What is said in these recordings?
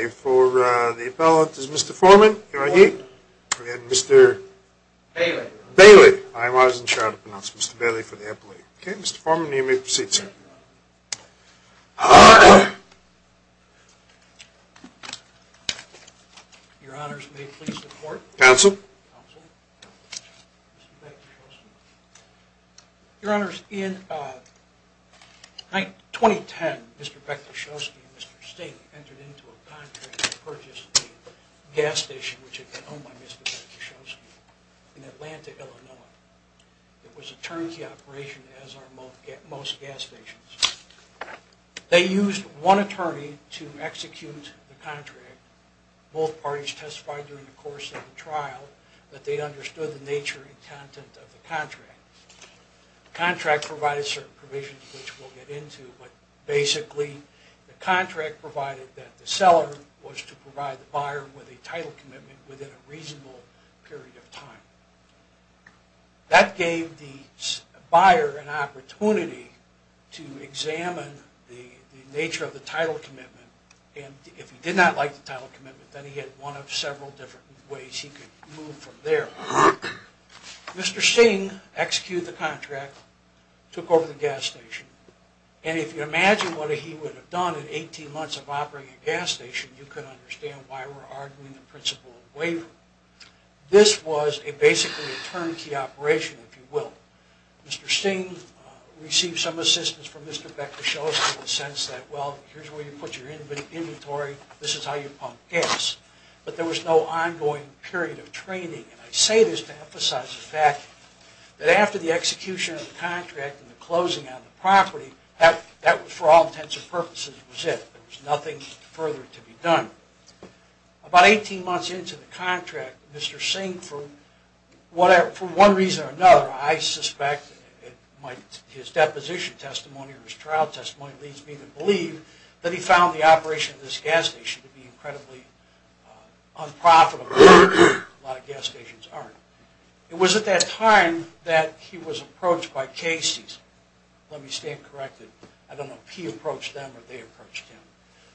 For the appellant is Mr. Foreman, can I hear you, and Mr. Bailey, I wasn't sure how to pronounce Mr. Bailey for the appellate. Okay, Mr. Foreman, you may proceed, sir. Your honors, may it please the court. Counsel. Counsel. Mr. Bektesoski. Your honors, in 2010, Mr. Bektesoski and Mr. Singh entered into a contract to purchase a gas station, which had been owned by Mr. Bektesoski, in Atlanta, Illinois. It was a turnkey operation, as are most gas stations. They used one attorney to execute the contract. Both parties testified during the course of the trial that they understood the nature and content of the contract. The contract provided certain provisions, which we'll get into, but basically the contract provided that the seller was to provide the buyer with a title commitment within a reasonable period of time. That gave the buyer an opportunity to examine the nature of the title commitment, and if he did not like the title commitment, then he had one of several different ways he could move from there. Mr. Singh executed the contract, took over the gas station, and if you imagine what he would have done in 18 months of operating a gas station, you can understand why we're arguing the principle of waiver. This was a basically a turnkey operation, if you will. Mr. Singh received some assistance from Mr. Bektesoski in the sense that, well, here's where you put your inventory, this is how you pump gas. But there was no ongoing period of training. And I say this to emphasize the fact that after the execution of the contract and the closing on the property, that was for all intents and purposes was it. There was nothing further to be done. About 18 months into the contract, Mr. Singh, for one reason or another, I suspect his deposition testimony or his trial testimony leads me to believe that he found the operation of this gas station to be incredibly unprofitable. A lot of gas stations aren't. It was at that time that he was approached by Casey's. Let me stand corrected. I don't know if he approached them or they approached him.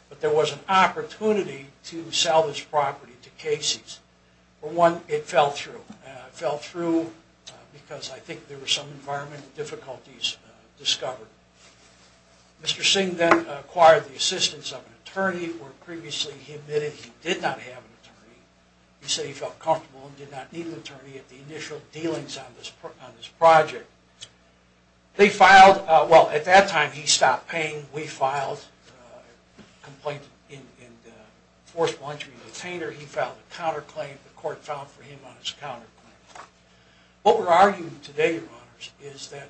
But there was an opportunity to sell this property to Casey's. For one, it fell through. It fell through because I think there were some environmental difficulties discovered. Mr. Singh then acquired the assistance of an attorney where previously he admitted he did not have an attorney. He said he felt comfortable and did not need an attorney at the initial dealings on this project. At that time, he stopped paying. We filed a complaint in the fourth voluntary detainer. He filed a counterclaim. The court filed for him on his counterclaim. What we're arguing today, Your Honors, is that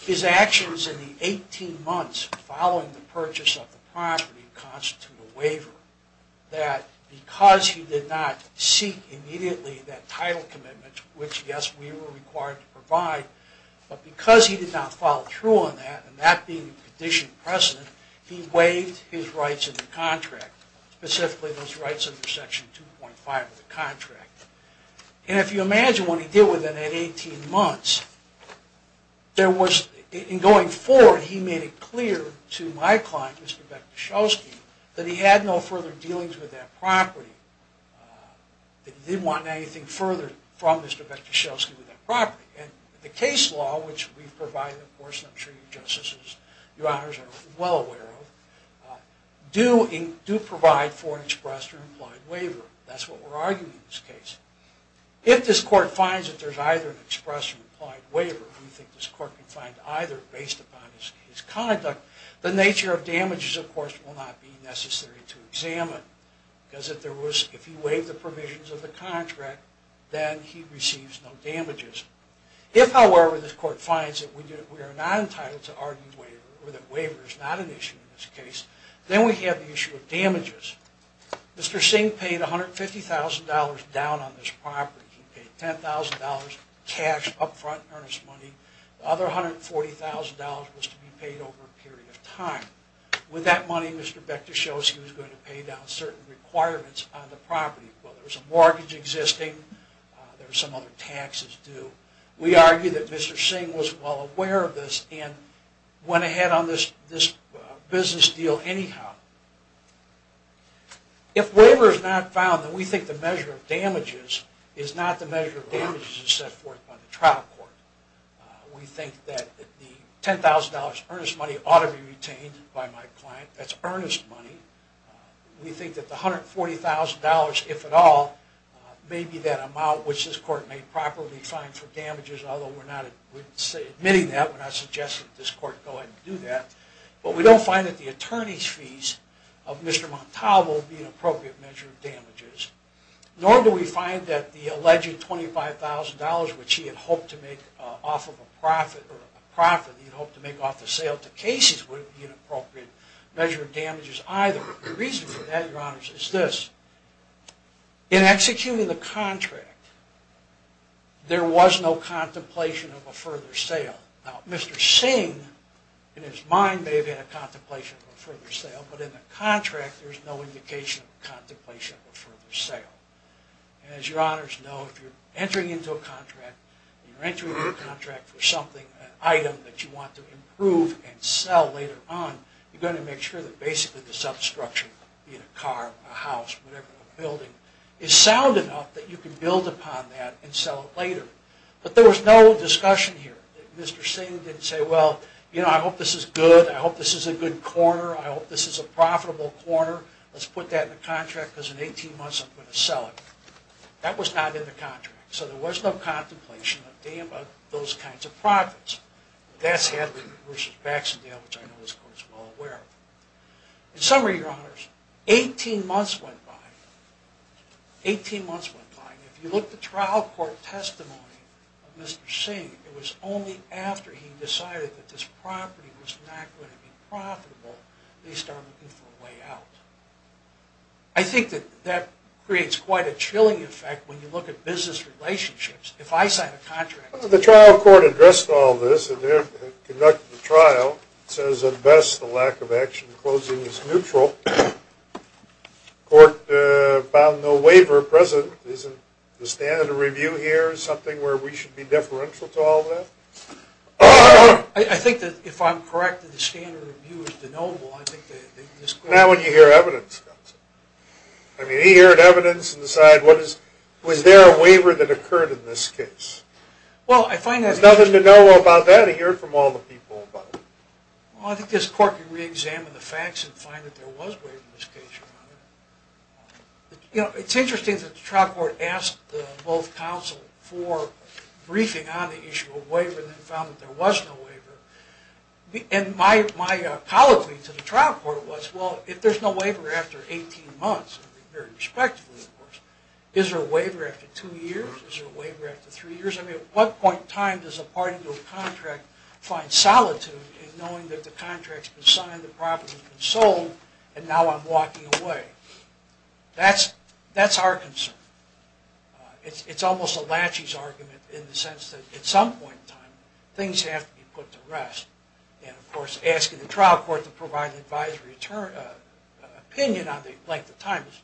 his actions in the 18 months following the purchase of the property constitute a waiver. That because he did not seek immediately that title commitment, which, yes, we were required to provide, but because he did not follow through on that, and that being a condition precedent, he waived his rights in the contract, specifically those rights under Section 2.5 of the contract. And if you imagine what he did within that 18 months, there was, in going forward, he made it clear to my client, Mr. Bektashelsky, that he had no further dealings with that property, that he didn't want anything further from Mr. Bektashelsky with that property. And the case law, which we've provided, of course, I'm sure Your Honors are well aware of, do provide for an express or implied waiver. That's what we're arguing in this case. If this Court finds that there's either an express or implied waiver, we think this Court can find either based upon his conduct, the nature of damages, of course, will not be necessary to examine. Because if he waived the provisions of the contract, then he receives no damages. If, however, this Court finds that we are not entitled to argue waiver, or that waiver is not an issue in this case, then we have the issue of damages. Mr. Singh paid $150,000 down on this property. He paid $10,000 cash up front, earnest money. The other $140,000 was to be paid over a period of time. With that money, Mr. Bektashelsky was going to pay down certain requirements on the property, whether it was a mortgage existing, there were some other taxes due. We argue that Mr. Singh was well aware of this, and went ahead on this business deal anyhow. If waiver is not found, then we think the measure of damages is not the measure of damages as set forth by the trial court. We think that the $10,000 earnest money ought to be retained by my client. That's earnest money. We think that the $140,000, if at all, may be that amount which this Court may properly fine for damages, although we're not admitting that. We're not suggesting that this Court go ahead and do that. But we don't find that the attorney's fees of Mr. Montalvo would be an appropriate measure of damages. Nor do we find that the alleged $25,000, which he had hoped to make off of a profit, he had hoped to make off the sale to Casey's, would be an appropriate measure of damages either. The reason for that, Your Honors, is this. In executing the contract, there was no contemplation of a further sale. Now, Mr. Singh, in his mind, may have had a contemplation of a further sale, but in the contract, there's no indication of a contemplation of a further sale. As Your Honors know, if you're entering into a contract, and you're entering into a contract for something, an item that you want to improve and sell later on, you've got to make sure that basically the substructure, be it a car, a house, whatever, a building, is sound enough that you can build upon that and sell it later. But there was no discussion here. Mr. Singh didn't say, well, you know, I hope this is good. I hope this is a good corner. I hope this is a profitable corner. Let's put that in the contract because in 18 months I'm going to sell it. That was not in the contract. So there was no contemplation of those kinds of profits. That's Hadley v. Baxendale, which I know this Court is well aware of. In summary, Your Honors, 18 months went by. 18 months went by. If you look at the trial court testimony of Mr. Singh, it was only after he decided that this property was not going to be profitable that he started looking for a way out. I think that that creates quite a chilling effect when you look at business relationships. If I sign a contract. The trial court addressed all this and they're conducting a trial. It says, at best, the lack of action in closing is neutral. The court found no waiver present. Isn't the standard of review here something where we should be deferential to all that? I think that if I'm correct that the standard of review is denotable. Not when you hear evidence. I mean, he heard evidence and decided was there a waiver that occurred in this case. Well, I find that. There's nothing to know about that. He heard from all the people about it. Well, I think this court can re-examine the facts and find that there was a waiver in this case. It's interesting that the trial court asked both counsels for briefing on the issue of waiver and found that there was no waiver. And my apology to the trial court was, well, if there's no waiver after 18 months, very respectfully, of course, is there a waiver after two years? Is there a waiver after three years? I mean, at what point in time does a party to a contract find solitude in knowing that the contract's been signed, the property's been sold, and now I'm walking away? That's our concern. It's almost a latches argument in the sense that at some point in time things have to be put to rest. And, of course, asking the trial court to provide an advisory opinion on the length of time is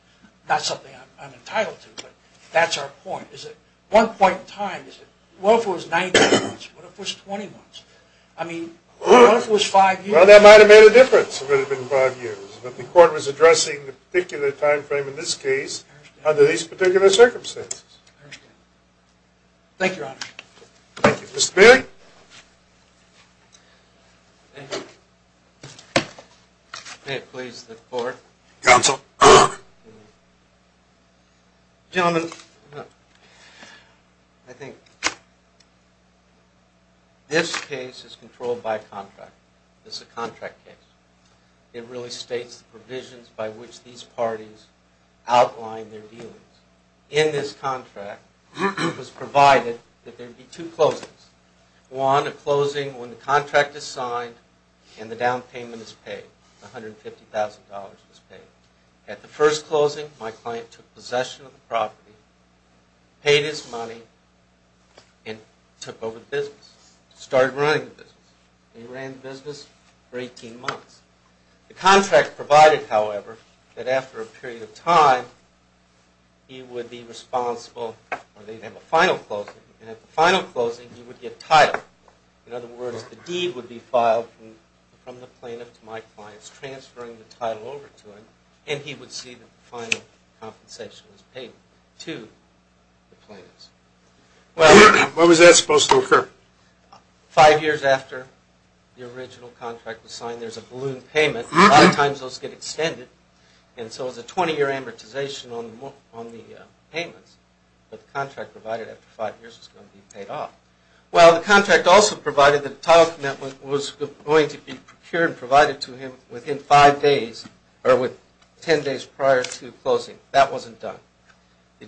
not something I'm entitled to. But that's our point. At what point in time is it? What if it was 19 months? What if it was 20 months? I mean, what if it was five years? Well, that might have made a difference if it had been five years. But the court was addressing the particular time frame in this case under these particular circumstances. I understand. Thank you, Your Honor. Thank you. Mr. Bailey? Thank you. May it please the Court. Counsel. Gentlemen, I think this case is controlled by a contract. This is a contract case. It really states the provisions by which these parties outline their dealings. In this contract, it was provided that there be two closings. One, a closing when the contract is signed and the down payment is paid, $150,000 is paid. At the first closing, my client took possession of the property, paid his money, and took over the business, started running the business. He ran the business for 18 months. The contract provided, however, that after a period of time, he would be responsible, or they'd have a final closing, and at the final closing, he would get title. In other words, the deed would be filed from the plaintiff to my clients, transferring the title over to him, and he would see that the final compensation was paid to the plaintiffs. When was that supposed to occur? Five years after the original contract was signed. There's a balloon payment. A lot of times those get extended, and so it's a 20-year amortization on the payments. But the contract provided after five years was going to be paid off. Well, the contract also provided that a title commitment was going to be procured and provided to him within five days, or with 10 days prior to closing. That wasn't done. The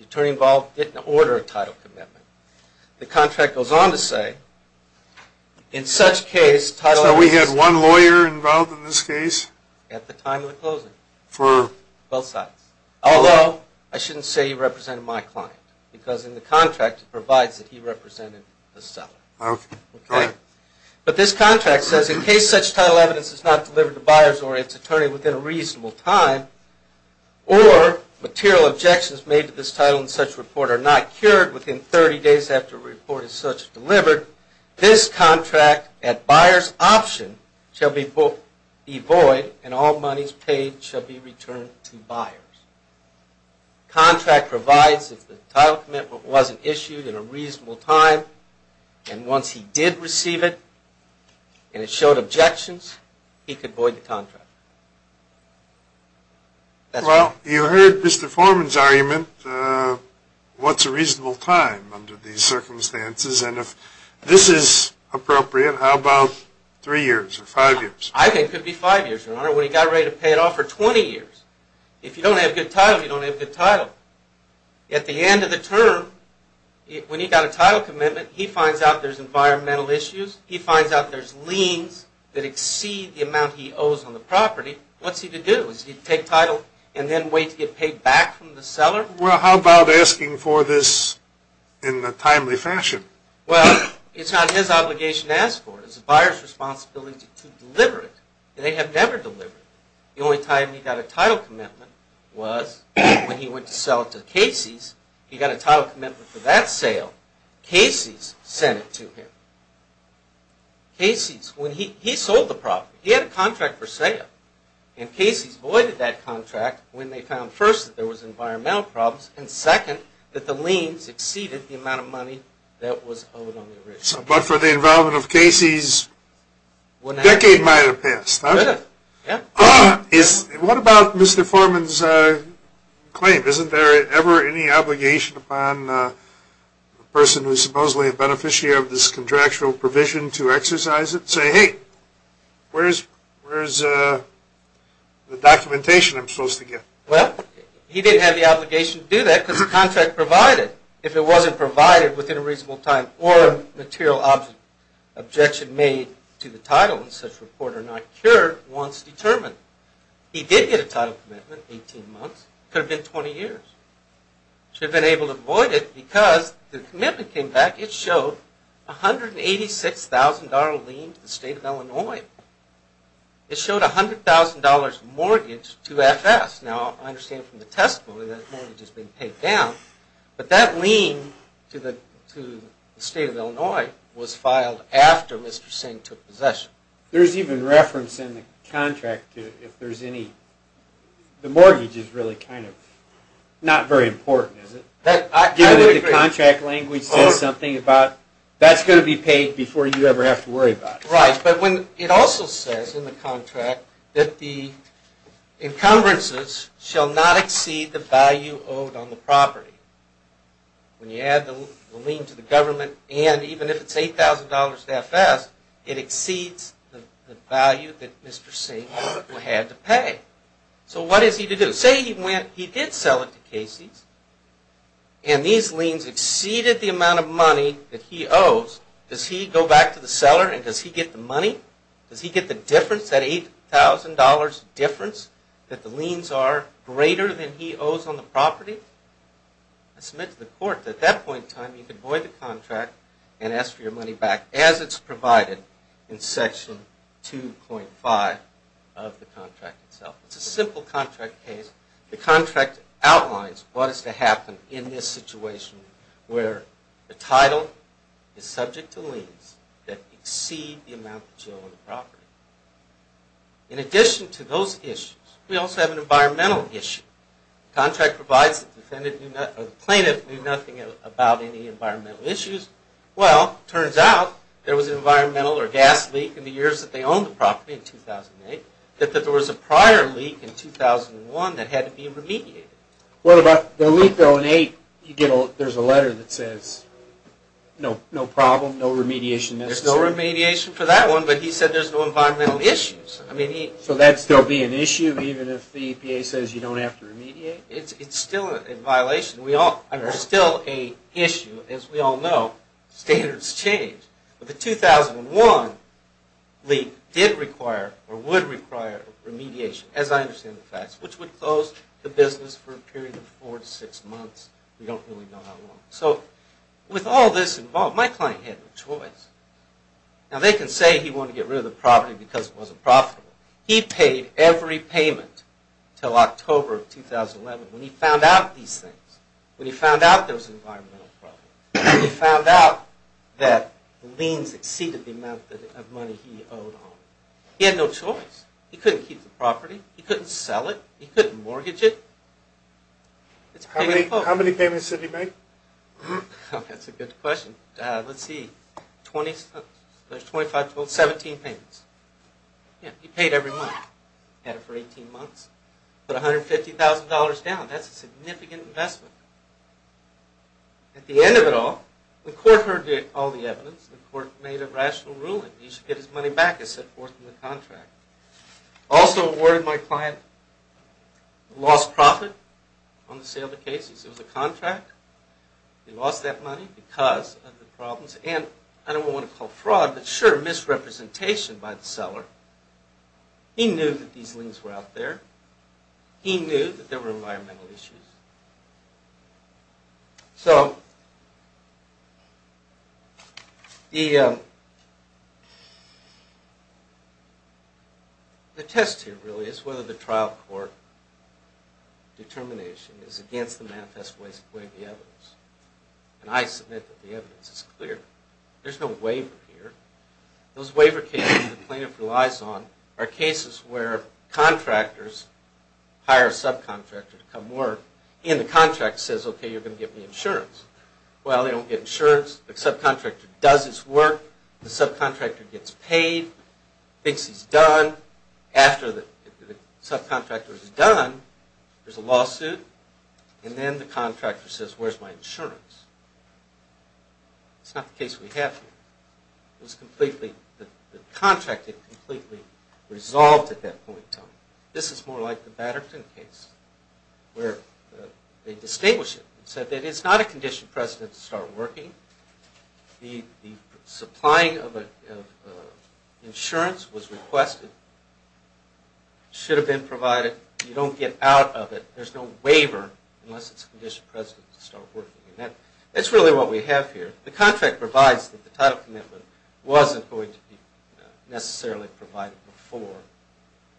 attorney involved didn't order a title commitment. The contract goes on to say, in such case, title... So we had one lawyer involved in this case? At the time of the closing. For? Both sides. Although, I shouldn't say he represented my client, because in the contract it provides that he represented the seller. Okay. But this contract says, in case such title evidence is not delivered to buyers or its attorney within a reasonable time, or material objections made to this title in such report are not cured within 30 days after a report is such delivered, this contract at buyer's option shall be void, and all monies paid shall be returned to buyers. Contract provides that the title commitment wasn't issued in a reasonable time, and once he did receive it, and it showed objections, he could void the contract. Well, you heard Mr. Foreman's argument, what's a reasonable time under these circumstances? And if this is appropriate, how about 3 years or 5 years? I think it could be 5 years, Your Honor, when he got ready to pay it off, or 20 years. If you don't have good title, you don't have good title. At the end of the term, when he got a title commitment, he finds out there's environmental issues, he finds out there's liens that exceed the amount he owes on the property. What's he to do? Is he to take title and then wait to get paid back from the seller? Well, how about asking for this in a timely fashion? Well, it's not his obligation to ask for it. It's the buyer's responsibility to deliver it, and they have never delivered it. The only time he got a title commitment was when he went to sell it to Casey's. He got a title commitment for that sale, Casey's sent it to him. Casey's, when he sold the property, he had a contract for sale, and Casey's voided that contract when they found, first, that there was environmental problems, and second, that the liens exceeded the amount of money that was owed on the original. But for the involvement of Casey's, a decade might have passed, huh? It could have, yeah. What about Mr. Foreman's claim? Isn't there ever any obligation upon the person who's supposedly a beneficiary of this contractual provision to exercise it? And say, hey, where's the documentation I'm supposed to get? Well, he didn't have the obligation to do that because the contract provided. If it wasn't provided within a reasonable time, or a material objection made to the title and such report are not cured, once determined. He did get a title commitment, 18 months. It could have been 20 years. Should have been able to void it because the commitment came back. It showed $186,000 lien to the state of Illinois. It showed $100,000 mortgage to FS. Now, I understand from the testimony that mortgage has been paid down, but that lien to the state of Illinois was filed after Mr. Singh took possession. There's even reference in the contract to if there's any. The mortgage is really kind of not very important, is it? Given that the contract language says something about that's going to be paid before you ever have to worry about it. Right, but it also says in the contract that the encumbrances shall not exceed the value owed on the property. When you add the lien to the government and even if it's $8,000 to FS, it exceeds the value that Mr. Singh had to pay. So what is he to do? Say he did sell it to Casey's and these liens exceeded the amount of money that he owes. Does he go back to the seller and does he get the money? Does he get the difference, that $8,000 difference that the liens are greater than he owes on the property? Submit to the court. At that point in time, you can void the contract and ask for your money back as it's provided in Section 2.5 of the contract itself. It's a simple contract case. The contract outlines what is to happen in this situation where the title is subject to liens that exceed the amount that you owe on the property. In addition to those issues, we also have an environmental issue. The contract provides that the plaintiff knew nothing about any environmental issues. Well, it turns out there was an environmental or gas leak in the years that they owned the property in 2008, that there was a prior leak in 2001 that had to be remediated. What about the leak though in 2008? There's a letter that says no problem, no remediation necessary. There's no remediation for that one, but he said there's no environmental issues. So that would still be an issue even if the EPA says you don't have to remediate? It's still a violation. It's still an issue. As we all know, standards change. The 2001 leak did require or would require remediation, as I understand the facts, which would close the business for a period of four to six months. We don't really know how long. So with all this involved, my client had no choice. Now they can say he wanted to get rid of the property because it wasn't profitable. He paid every payment until October of 2011 when he found out these things, when he found out there was an environmental problem, when he found out that liens exceeded the amount of money he owed on it. He had no choice. He couldn't keep the property. He couldn't sell it. He couldn't mortgage it. How many payments did he make? That's a good question. Let's see. There's 17 payments. He paid every month. He had it for 18 months. Put $150,000 down. That's a significant investment. At the end of it all, the court heard all the evidence. The court made a rational ruling. He should get his money back, as set forth in the contract. Also awarded my client a lost profit on the sale of the cases. It was a contract. He lost that money because of the problems, and I don't want to call fraud, but sure, misrepresentation by the seller. He knew that these liens were out there. He knew that there were environmental issues. So the test here really is whether the trial court determination is against the manifest way of the evidence. And I submit that the evidence is clear. There's no waiver here. Those waiver cases the plaintiff relies on are cases where contractors hire a subcontractor to come work, and the contract says, okay, you're going to give me insurance. Well, they don't get insurance. The subcontractor does his work. The subcontractor gets paid, thinks he's done. After the subcontractor is done, there's a lawsuit, and then the contractor says, where's my insurance? It's not the case we have here. It was completely, the contract had completely resolved at that point. So this is more like the Batterton case where they distinguish it and said that it's not a condition of precedent to start working. The supplying of insurance was requested, should have been provided. You don't get out of it. There's no waiver unless it's a condition of precedent to start working. And that's really what we have here. The contract provides that the title commitment wasn't going to be necessarily provided before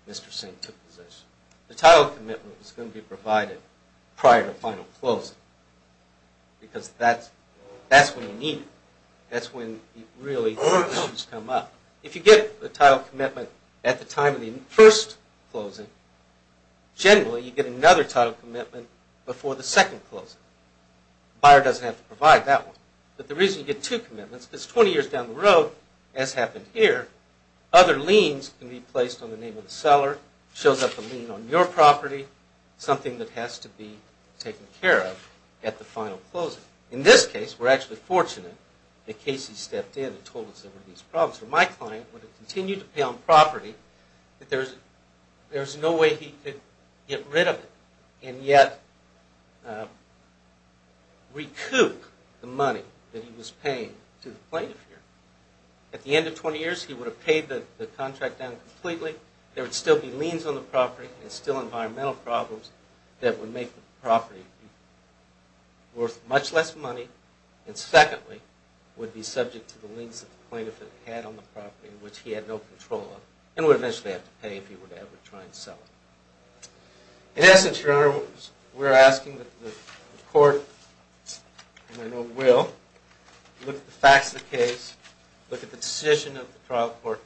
Mr. Singh took position. The title commitment was going to be provided prior to the final closing because that's when you need it. That's when really issues come up. If you get a title commitment at the time of the first closing, generally you get another title commitment before the second closing. The buyer doesn't have to provide that one. But the reason you get two commitments is because 20 years down the road, as happened here, other liens can be placed on the name of the seller, shows up a lien on your property, something that has to be taken care of at the final closing. In this case, we're actually fortunate that Casey stepped in and told us there were these problems. My client would have continued to pay on property, but there's no way he could get rid of it and yet recoup the money that he was paying to the plaintiff here. At the end of 20 years, he would have paid the contract down completely. There would still be liens on the property. There's still environmental problems that would make the property worth much less money. And secondly, would be subject to the liens that the plaintiff had on the property, which he had no control of, and would eventually have to pay if he were to ever try and sell it. In essence, Your Honor, we're asking that the court, and I know it will, look at the facts of the case, look at the decision of the trial court,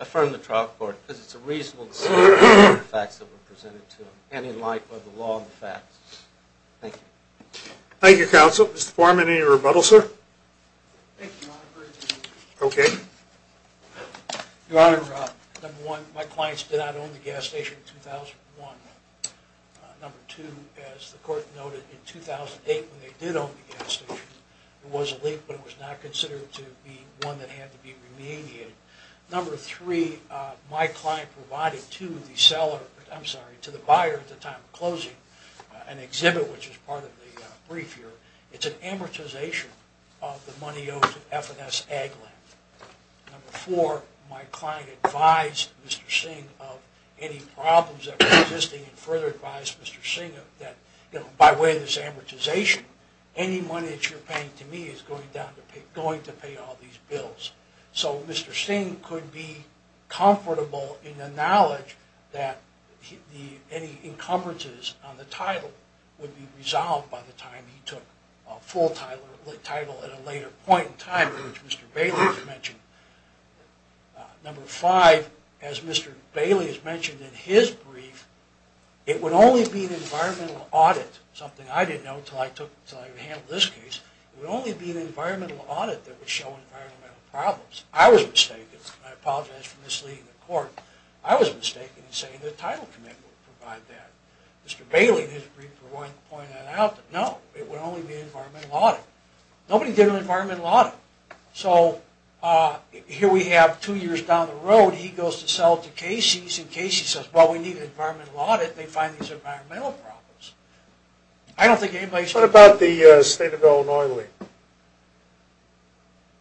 affirm the trial court, because it's a reasonable decision to look at the facts that were presented to them, and in light of the law and the facts. Thank you. Thank you, counsel. Mr. Foreman, any rebuttal, sir? Thank you, Your Honor. Okay. Your Honor, number one, my clients did not own the gas station in 2001. Number two, as the court noted, in 2008 when they did own the gas station, there was a leak, but it was not considered to be one that had to be remediated. Number three, my client provided to the buyer at the time of closing an exhibit, which is part of the brief here, it's an amortization of the money owed to F&S Ag Land. Number four, my client advised Mr. Singh of any problems that were existing and further advised Mr. Singh that by way of this amortization, any money that you're paying to me is going to pay all these bills. So Mr. Singh could be comfortable in the knowledge that any encumbrances on the title would be resolved by the time he took a full title at a later point in time, which Mr. Bailey has mentioned. Number five, as Mr. Bailey has mentioned in his brief, it would only be an environmental audit, something I didn't know until I handled this case, it would only be an environmental audit that would show environmental problems. I was mistaken, and I apologize for misleading the court. I was mistaken in saying the title commitment would provide that. Mr. Bailey, in his brief, pointed out that no, it would only be an environmental audit. Nobody did an environmental audit. So here we have two years down the road, he goes to sell to Casey's, and Casey says, well, we need an environmental audit, they find these environmental problems. I don't think anybody should... What about the State of Illinois League?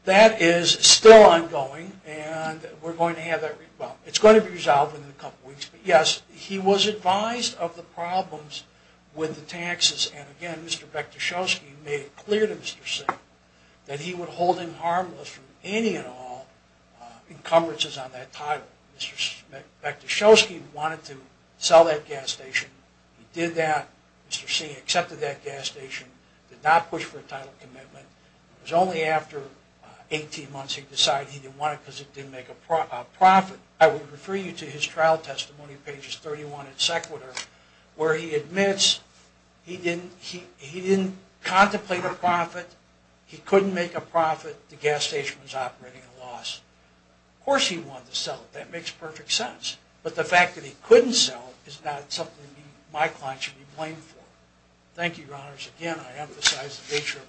That is still ongoing, and we're going to have that... Well, it's going to be resolved in a couple weeks, but yes, he was advised of the problems with the taxes, and again, Mr. Bekdashovsky made it clear to Mr. Singh that he would hold him harmless from any and all encumbrances on that title. Mr. Bekdashovsky wanted to sell that gas station. He did that. Mr. Singh accepted that gas station, did not push for a title commitment. It was only after 18 months he decided he didn't want it because it didn't make a profit. I would refer you to his trial testimony, pages 31 and seconder, where he admits he didn't contemplate a profit, he couldn't make a profit, the gas station was operating at a loss. Of course he wanted to sell it. That makes perfect sense. But the fact that he couldn't sell it is not something my client should be blamed for. Thank you, Your Honors. Thank you.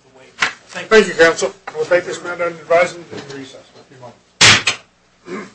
Thank you, Counsel. I will take this matter into advisement and recess. Thank you very much.